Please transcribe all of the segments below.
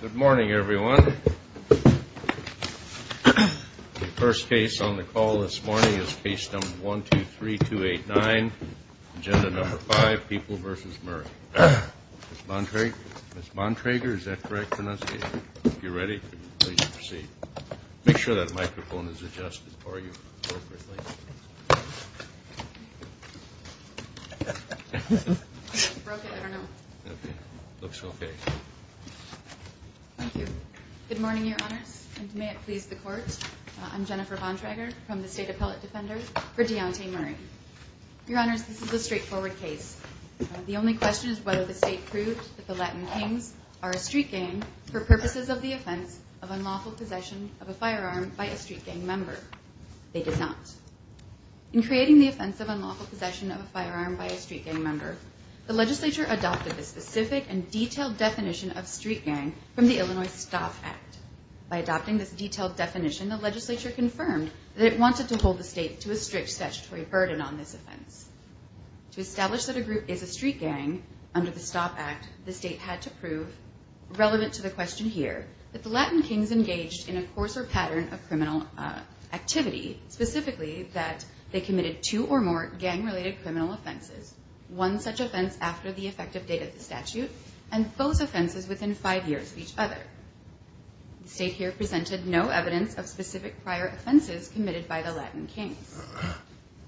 Good morning, everyone. The first case on the call this morning is case number 123289, agenda number five, People v. Murray. Ms. Bontrager, is that correct pronunciation? If you're ready, please proceed. Make sure that microphone is adjusted for you appropriately. Good morning, Your Honors, and may it please the Court. I'm Jennifer Bontrager from the State Appellate Defender for Deontay Murray. Your Honors, this is a straightforward case. The only question is whether the State proved that the Latin Kings are a street gang for purposes of the offense of unlawful possession of a firearm by a street gang member. They did not. In creating the offense of unlawful possession of a firearm by a street gang member, the legislature adopted the specific and detailed definition of street gang from the Illinois Stop Act. By adopting this detailed definition, the legislature confirmed that it wanted to hold the State to a strict statutory burden on this offense. To establish that a group is a street gang under the Stop Act, the State had to prove, relevant to the question here, that the Latin Kings engaged in a coarser pattern of criminal activity, specifically that they committed two or more gang-related criminal offenses, one such offense after the effective date of the statute, and both offenses within five years of each other. The State here presented no evidence of specific prior offenses committed by the Latin Kings.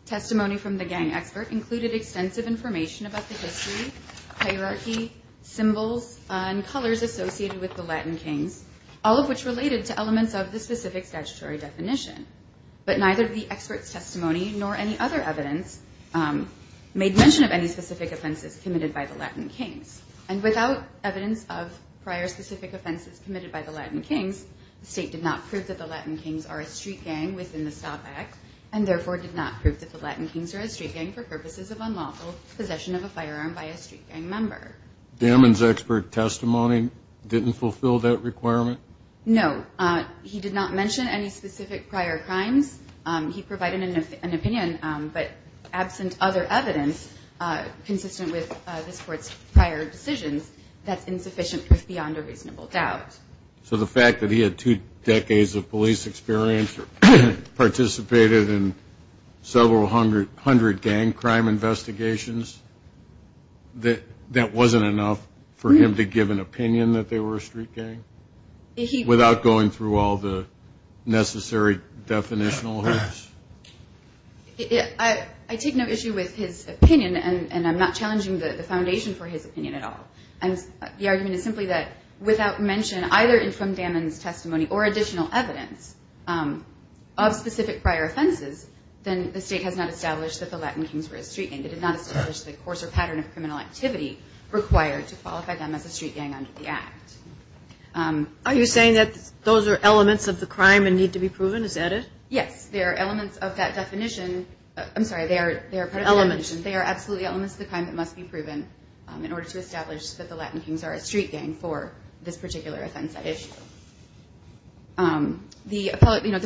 Testimony from the gang expert included extensive information about the history, hierarchy, symbols, and colors associated with the Latin Kings, all of which related to elements of the specific statutory definition. But neither the expert's testimony nor any other evidence made mention of any specific offenses committed by the Latin Kings. And without evidence of prior specific offenses committed by the Latin Kings, the State did not prove that the Latin Kings are a street gang within the Stop Act, and therefore did not prove that the Latin Kings are a street gang for purposes of unlawful possession of a firearm by a street gang member. Damman's expert testimony didn't fulfill that requirement? No. He did not mention any specific prior crimes. He provided an opinion, but absent other evidence consistent with this Court's prior decisions, that's insufficient proof beyond a reasonable doubt. So the fact that he had two decades of police experience and participated in several hundred gang crime investigations, that wasn't enough for him to give an opinion that they were a street gang? Without going through all the necessary definitional evidence? I take no issue with his opinion, and I'm not challenging the foundation for his opinion at all. And the argument is simply that without mention either from Damman's testimony or additional evidence of specific prior offenses, then the State has not established that the Latin Kings were a street gang. It did not establish the course or pattern of criminal activity required to qualify them as a street gang under the Act. Are you saying that those are elements of the crime and need to be proven? Is that it? Yes. They are elements of that definition. I'm sorry. They are part of the definition. Elements. They are absolutely elements of the crime that must be proven in order to establish that the Latin Kings are a street gang for this particular offense at issue. The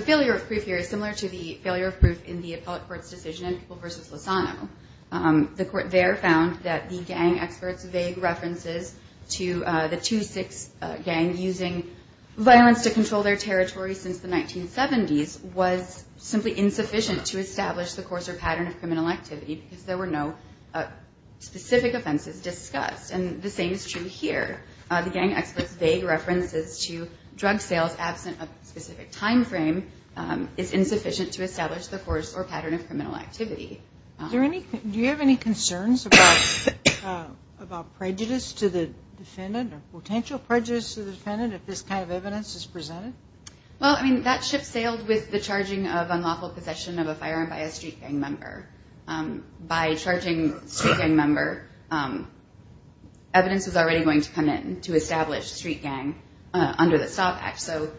failure of proof here is similar to the failure of proof in the appellate court's decision in People v. Lozano. The court there found that the gang experts' vague references to the 2-6 gang using violence to control their territory since the 1970s was simply insufficient to establish the course or pattern of criminal activity because there were no specific offenses discussed. And the same is true here. The gang experts' vague references to drug sales absent a specific time frame is insufficient to establish the course or pattern of criminal activity. Do you have any concerns about prejudice to the defendant or potential prejudice to the defendant if this kind of evidence is presented? Well, I mean, that ship sailed with the charging of unlawful possession of a firearm by a street gang member. By charging a street gang member, evidence was already going to come in to establish street gang under the STOP Act. So,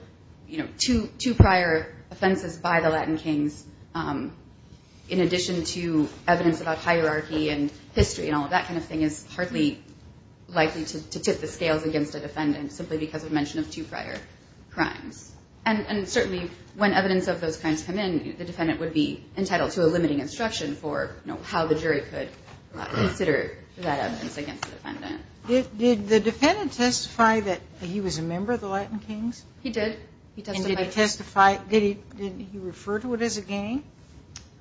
you know, two prior offenses by the Latin Kings in addition to evidence about hierarchy and history and all of that kind of thing is hardly likely to tip the scales against a defendant simply because of mention of two prior crimes. And certainly, when evidence of those crimes come in, the defendant would be entitled to a limiting instruction for, you know, how the jury could consider that evidence against the defendant. Did the defendant testify that he was a member of the Latin Kings? He did. And did he refer to it as a gang?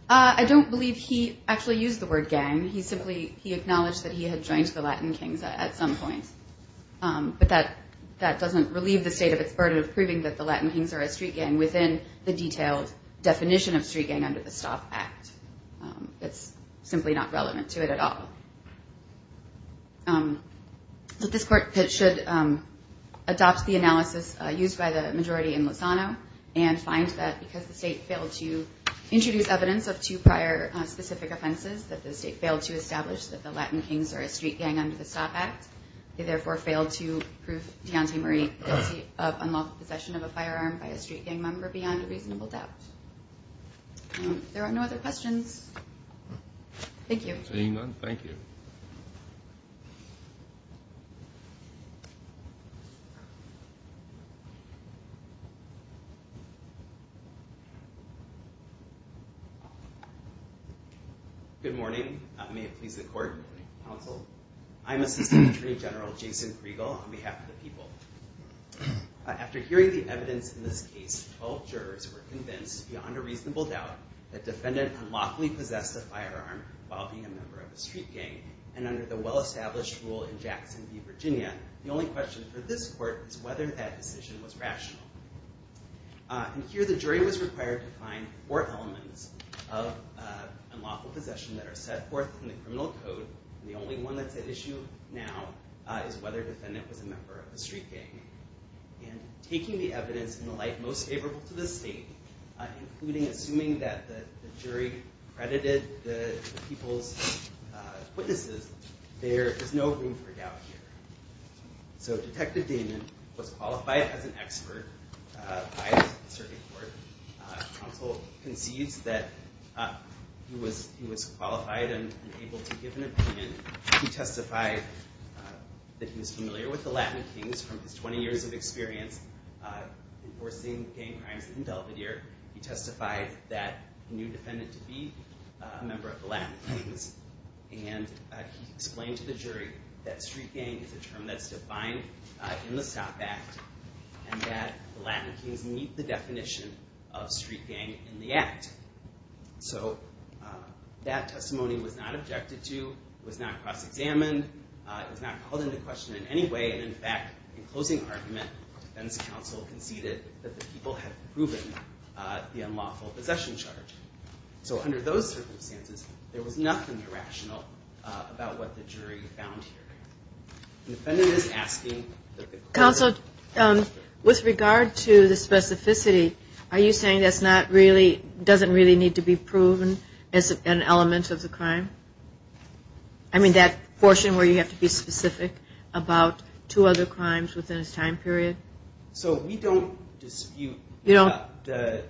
I don't believe he actually used the word gang. He acknowledged that he had joined the Latin Kings at some point. But that doesn't relieve the state of its burden of proving that the Latin Kings are a street gang within the detailed definition of street gang under the STOP Act. It's simply not relevant to it at all. This Court should adopt the analysis used by the majority in Lozano and find that because the state failed to introduce evidence of two prior specific offenses, that the state failed to establish that the Latin Kings are a street gang under the STOP Act, they therefore failed to prove Deontay Marie guilty of unlawful possession of a firearm by a street gang member beyond a reasonable doubt. If there are no other questions, thank you. Seeing none, thank you. Good morning. May it please the Court. Good morning. Counsel. I'm Assistant Attorney General Jason Kriegel on behalf of the people. After hearing the evidence in this case, all jurors were convinced beyond a reasonable doubt that the defendant unlawfully possessed a firearm while being a member of a street gang. And under the well-established rule in Jackson v. Virginia, the only question for this Court is whether that decision was rational. And here the jury was required to find four elements of unlawful possession that are set forth in the criminal code, and the only one that's at issue now is whether the defendant was a member of a street gang. And taking the evidence in the light most favorable to the state, including assuming that the jury credited the people's witnesses, there is no room for doubt here. So Detective Damon was qualified as an expert by the circuit court. Counsel concedes that he was qualified and able to give an opinion. He testified that he was familiar with the Latin Kings from his 20 years of experience enforcing gang crimes in Belvidere. He testified that he knew the defendant to be a member of the Latin Kings. And he explained to the jury that street gang is a term that's defined in the STOP Act and that the Latin Kings meet the definition of street gang in the Act. So that testimony was not objected to, was not cross-examined, was not called into question in any way. And, in fact, in closing argument, the defense counsel conceded that the people had proven the unlawful possession charge. So under those circumstances, there was nothing irrational about what the jury found here. The defendant is asking that the court- Counsel, with regard to the specificity, are you saying that doesn't really need to be proven as an element of the crime? I mean that portion where you have to be specific about two other crimes within a time period? So we don't dispute the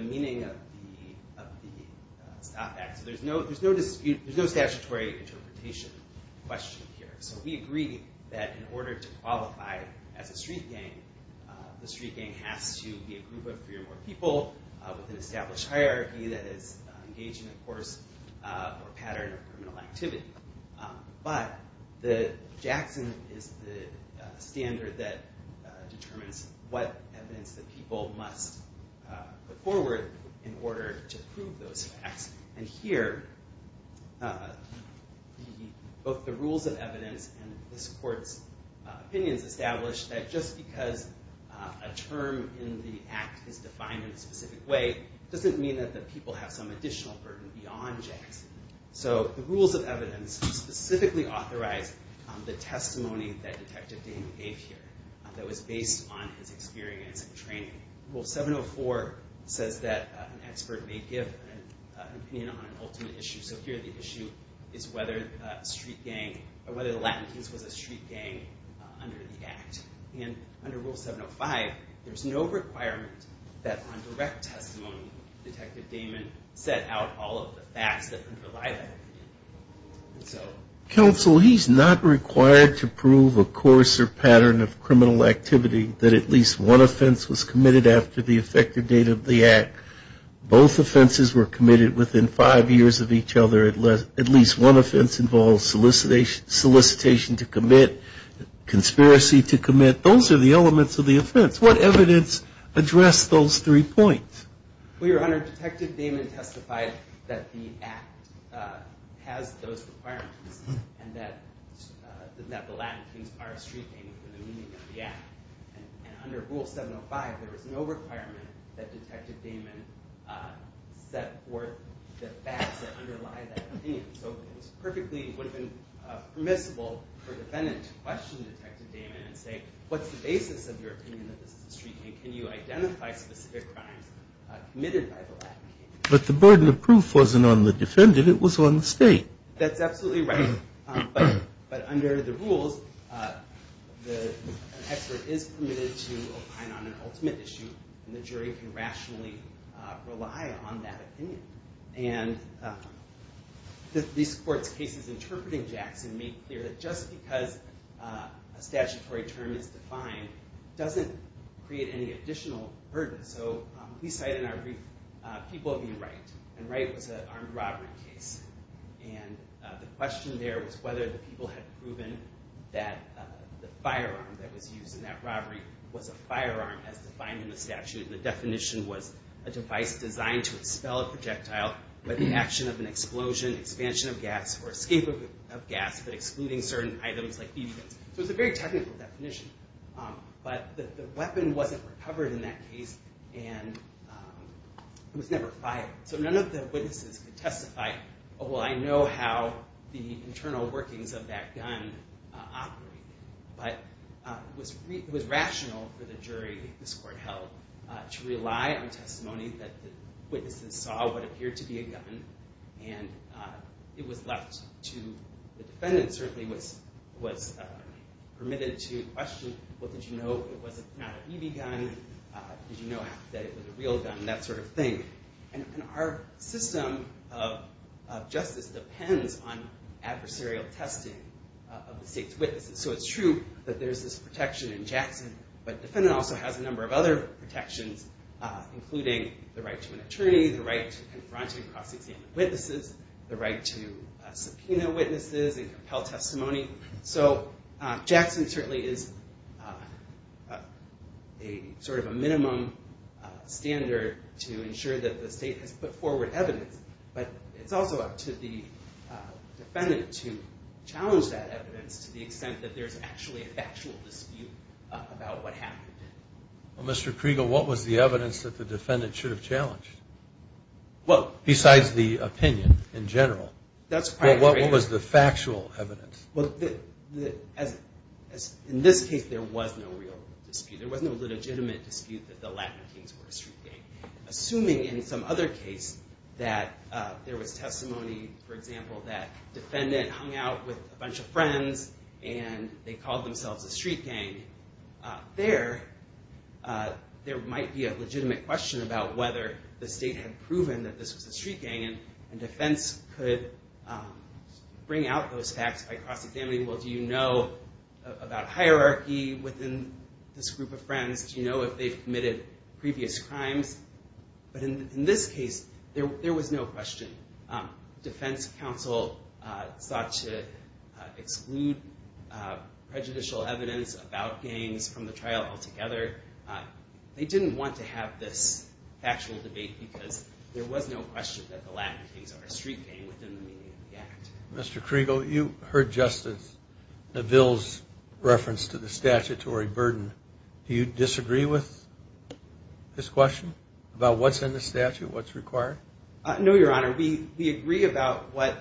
meaning of the STOP Act. So there's no statutory interpretation question here. So we agree that in order to qualify as a street gang, the street gang has to be a group of three or more people with an established hierarchy that is engaging in a course or pattern of criminal activity. But the Jackson is the standard that determines what evidence that people must put forward in order to prove those facts. And here, both the rules of evidence and this court's opinions establish that just because a term in the Act is defined in a specific way doesn't mean that the people have some additional burden beyond Jackson. So the rules of evidence specifically authorize the testimony that Detective Daniel gave here that was based on his experience and training. Rule 704 says that an expert may give an opinion on an ultimate issue. So here the issue is whether the Latinx was a street gang under the Act. And under Rule 705, there's no requirement that on direct testimony, Detective Damon set out all of the facts that underlie that opinion. Counsel, he's not required to prove a course or pattern of criminal activity that at least one offense was committed after the effective date of the Act. Both offenses were committed within five years of each other. At least one offense involves solicitation to commit, conspiracy to commit. Those are the elements of the offense. What evidence addressed those three points? Well, Your Honor, Detective Damon testified that the Act has those requirements and that the Latinx are a street gang for the meaning of the Act. And under Rule 705, there is no requirement that Detective Damon set forth the facts that underlie that opinion. So it was perfectly permissible for a defendant to question Detective Damon and say, what's the basis of your opinion that this is a street gang? Can you identify specific crimes committed by the Latinx? But the burden of proof wasn't on the defendant. It was on the state. That's absolutely right. But under the rules, an expert is permitted to opine on an ultimate issue, and the jury can rationally rely on that opinion. And these court cases interpreting Jackson make clear that just because a statutory term is defined doesn't create any additional burden. So we cite in our brief people being right, and right was an armed robbery case. And the question there was whether the people had proven that the firearm that was used in that robbery was a firearm as defined in the statute. The definition was a device designed to expel a projectile by the action of an explosion, expansion of gas, or escape of gas, but excluding certain items like BB guns. So it's a very technical definition. But the weapon wasn't recovered in that case, and it was never fired. So none of the witnesses could testify, oh, well, I know how the internal workings of that gun operated. But it was rational for the jury this court held to rely on testimony that the witnesses saw what appeared to be a gun, and it was left to the defendant certainly was permitted to question, well, did you know it was not a BB gun? Did you know that it was a real gun? That sort of thing. And our system of justice depends on adversarial testing of the state's witnesses. So it's true that there's this protection in Jackson, but the defendant also has a number of other protections, including the right to an attorney, the right to confront and cross-examine witnesses, the right to subpoena witnesses and compel testimony. So Jackson certainly is sort of a minimum standard to ensure that the state has put forward evidence, but it's also up to the defendant to challenge that evidence to the extent that there's actually a factual dispute about what happened. Well, Mr. Kriegel, what was the evidence that the defendant should have challenged, besides the opinion in general? Well, what was the factual evidence? Well, in this case there was no real dispute. There was no legitimate dispute that the Latin Kings were a street gang, assuming in some other case that there was testimony, for example, that a defendant hung out with a bunch of friends and they called themselves a street gang. There might be a legitimate question about whether the state had proven that this was a street gang and defense could bring out those facts by cross-examining. Well, do you know about hierarchy within this group of friends? Do you know if they've committed previous crimes? But in this case there was no question. Defense counsel sought to exclude prejudicial evidence about gangs from the trial altogether. They didn't want to have this factual debate because there was no question that the Latin Kings are a street gang within the meaning of the act. Mr. Kriegel, you heard Justice Neville's reference to the statutory burden. Do you disagree with this question about what's in the statute, what's required? No, Your Honor. We agree about what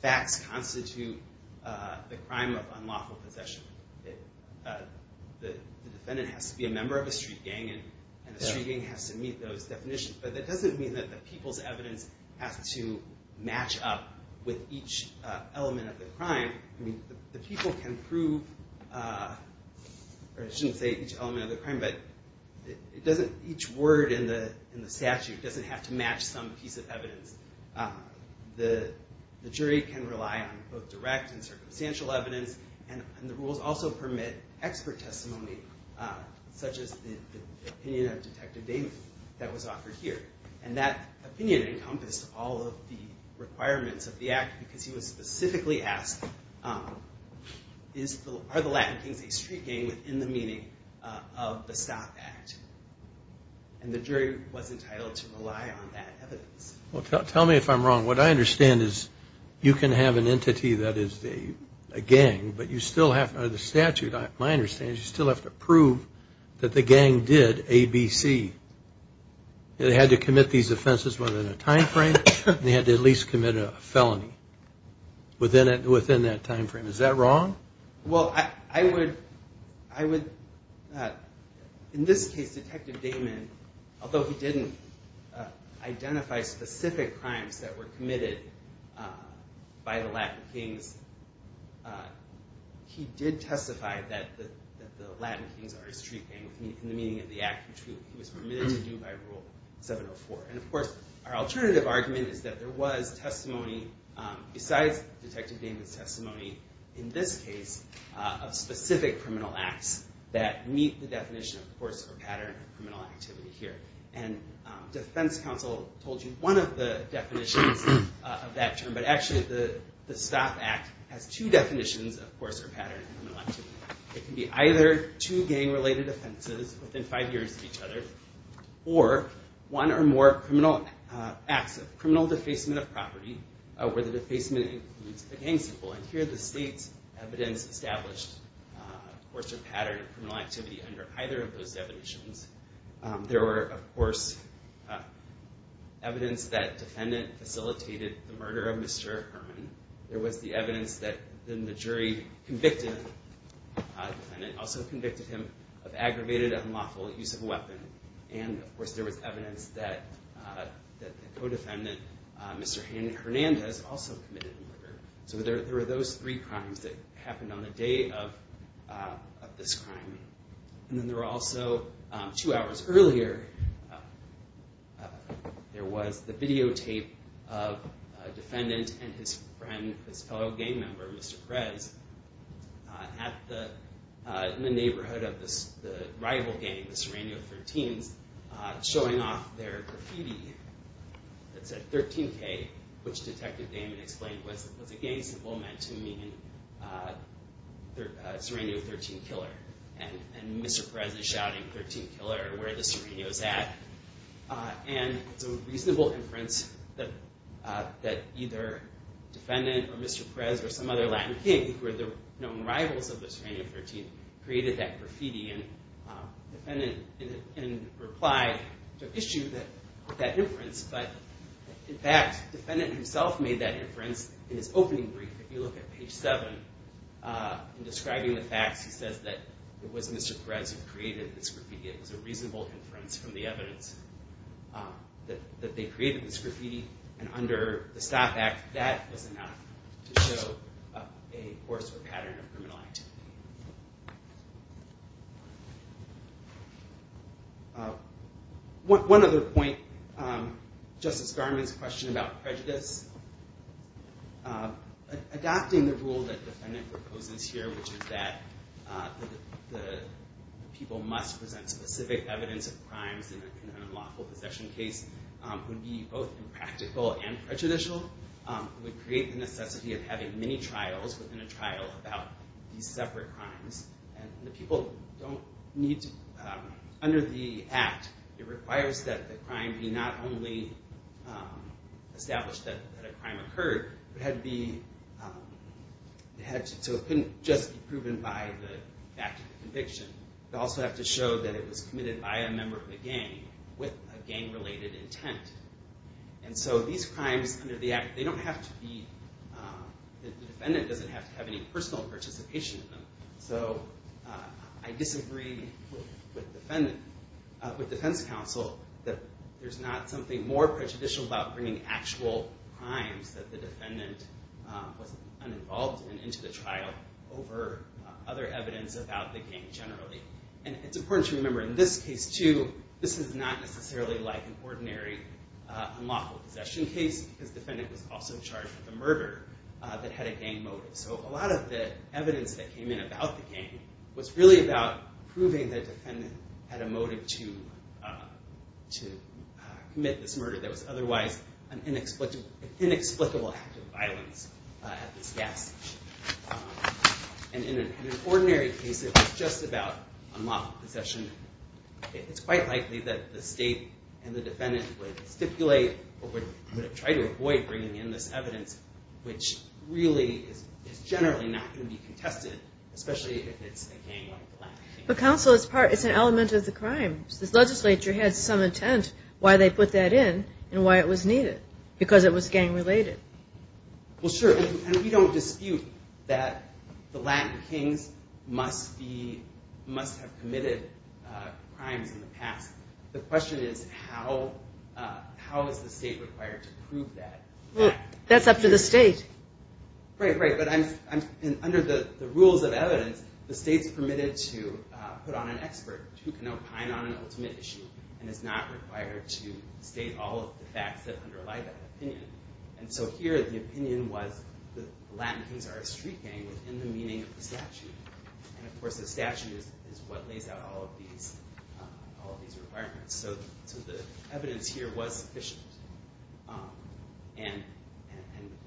facts constitute the crime of unlawful possession. The defendant has to be a member of a street gang and the street gang has to meet those definitions. But that doesn't mean that the people's evidence has to match up with each element of the crime. I mean, the people can prove, or I shouldn't say each element of the crime, but each word in the statute doesn't have to match some piece of evidence. The jury can rely on both direct and circumstantial evidence, and the rules also permit expert testimony such as the opinion of Detective Damon that was offered here. And that opinion encompassed all of the requirements of the act because he was specifically asked, are the Latin Kings a street gang within the meaning of the Stop Act? And the jury was entitled to rely on that evidence. Well, tell me if I'm wrong. What I understand is you can have an entity that is a gang, but you still have to, under the statute, my understanding is you still have to prove that the gang did ABC. They had to commit these offenses within a time frame and they had to at least commit a felony within that time frame. Is that wrong? Well, I would, in this case, Detective Damon, although he didn't identify specific crimes that were committed by the Latin Kings, he did testify that the Latin Kings are a street gang in the meaning of the act, which he was permitted to do by Rule 704. And, of course, our alternative argument is that there was testimony besides Detective Damon's testimony, in this case, of specific criminal acts that meet the definition of the course or pattern of criminal activity here. And defense counsel told you one of the definitions of that term, but actually the STOP Act has two definitions of course or pattern of criminal activity. It can be either two gang-related offenses within five years of each other, or one or more criminal acts of criminal defacement of property where the defacement includes a gang symbol. And here the state's evidence established course or pattern of criminal activity under either of those definitions. There were, of course, evidence that defendant facilitated the murder of Mr. Herman. There was the evidence that the jury convicted the defendant, also convicted him of aggravated unlawful use of a weapon. And, of course, there was evidence that the co-defendant, Mr. Hernandez, also committed the murder. So there were those three crimes that happened on the day of this crime. And then there were also, two hours earlier, there was the videotape of a defendant and his friend, his fellow gang member, Mr. Perez, in the neighborhood of the rival gang, the Serrano 13s, showing off their graffiti that said 13K, which Detective Damon explained was a gang symbol meant to mean Serrano 13 Killer. And Mr. Perez is shouting 13 Killer where the Serrano's at. And it's a reasonable inference that either defendant or Mr. Perez or some other Latin king who were the known rivals of the Serrano 13 created that graffiti. And the defendant in reply took issue with that inference. But, in fact, the defendant himself made that inference in his opening brief. If you look at page 7, in describing the facts, he says that it was Mr. Perez who created this graffiti. It was a reasonable inference from the evidence that they created this graffiti. And under the STOP Act, that was enough to show a course or pattern of criminal activity. One other point, Justice Garmon's question about prejudice. Adopting the rule that the defendant proposes here, which is that the people must present specific evidence of crimes in a lawful possession case would be both impractical and prejudicial. It would create the necessity of having many trials within a trial about these separate crimes. And the people don't need to... Under the Act, it requires that the crime be not only established that a crime occurred, but had to be... So it couldn't just be proven by the fact of the conviction. It would also have to show that it was committed by a member of the gang with a gang-related intent. And so these crimes under the Act, they don't have to be... The defendant doesn't have to have any personal participation in them. So I disagree with defense counsel that there's not something more prejudicial about bringing actual crimes that the defendant was uninvolved in into the trial over other evidence about the gang generally. And it's important to remember in this case, too, this is not necessarily like an ordinary unlawful possession case because the defendant was also charged with a murder that had a gang motive. So a lot of the evidence that came in about the gang was really about proving that the defendant had a motive to commit this murder that was otherwise an inexplicable act of violence at this gas station. And in an ordinary case, it was just about unlawful possession. It's quite likely that the state and the defendant would stipulate or would try to avoid bringing in this evidence which really is generally not going to be contested, especially if it's a gang-related crime. But counsel, it's an element of the crime. This legislature had some intent why they put that in and why it was needed, because it was gang-related. Well, sure. And we don't dispute that the Latin kings must have committed crimes in the past. The question is how is the state required to prove that? That's up to the state. Right, right. But under the rules of evidence, the state's permitted to put on an expert who can opine on an ultimate issue and is not required to state all of the facts that underlie that opinion. And so here, the opinion was the Latin kings are a street gang within the meaning of the statute. And of course, the statute is what lays out all of these requirements. So the evidence here was sufficient. And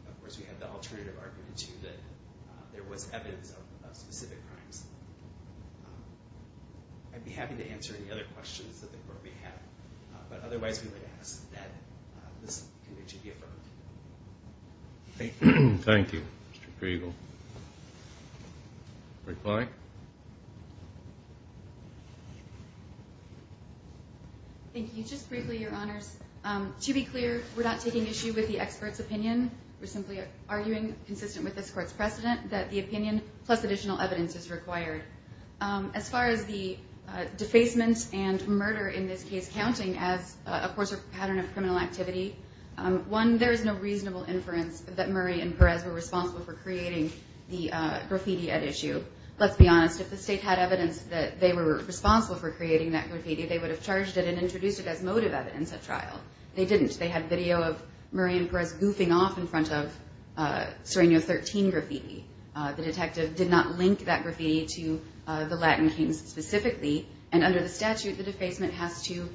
of course, we had the alternative argument, too, that there was evidence of specific crimes. I'd be happy to answer any other questions that the court may have. But otherwise, we would ask that this conviction be affirmed. Thank you. Thank you, Mr. Kriegel. Recline. Thank you. Just briefly, Your Honors, to be clear, we're not taking issue with the expert's opinion. We're simply arguing, consistent with this court's precedent, that the opinion plus additional evidence is required. As far as the defacement and murder in this case counting as, of course, a pattern of criminal activity, one, there is no reasonable inference that Murray and Perez were responsible for creating the graffiti at issue. Let's be honest. If the state had evidence that they were responsible for creating that graffiti, they would have charged it and introduced it as motive evidence at trial. They didn't. They had video of Murray and Perez goofing off in front of Sereno 13 graffiti. The detective did not link that graffiti to the Latin Kings specifically. And under the statute, the defacement has to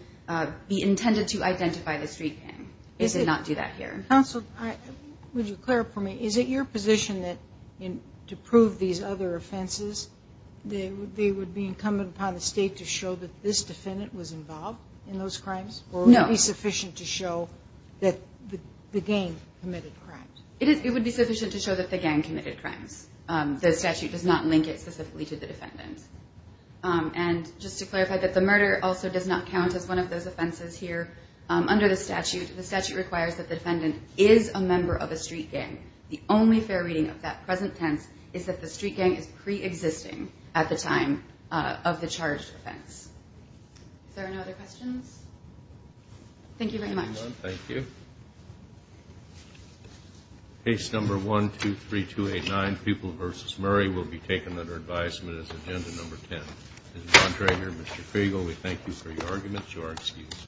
be intended to identify the street gang. They did not do that here. Counsel, would you clarify for me, is it your position that to prove these other offenses, they would be incumbent upon the state to show that this defendant was involved in those crimes? No. Or would it be sufficient to show that the gang committed crimes? It would be sufficient to show that the gang committed crimes. The statute does not link it specifically to the defendant. And just to clarify that the murder also does not count as one of those offenses here. Under the statute, the statute requires that the defendant is a member of a street gang. The only fair reading of that present tense is that the street gang is preexisting at the time of the charged offense. Are there no other questions? Thank you very much. Thank you, everyone. Thank you. Case number 123289, Pupil v. Murray, will be taken under advisement as agenda number 10. This is John Trager, Mr. Fregel. We thank you for your arguments. You are excused.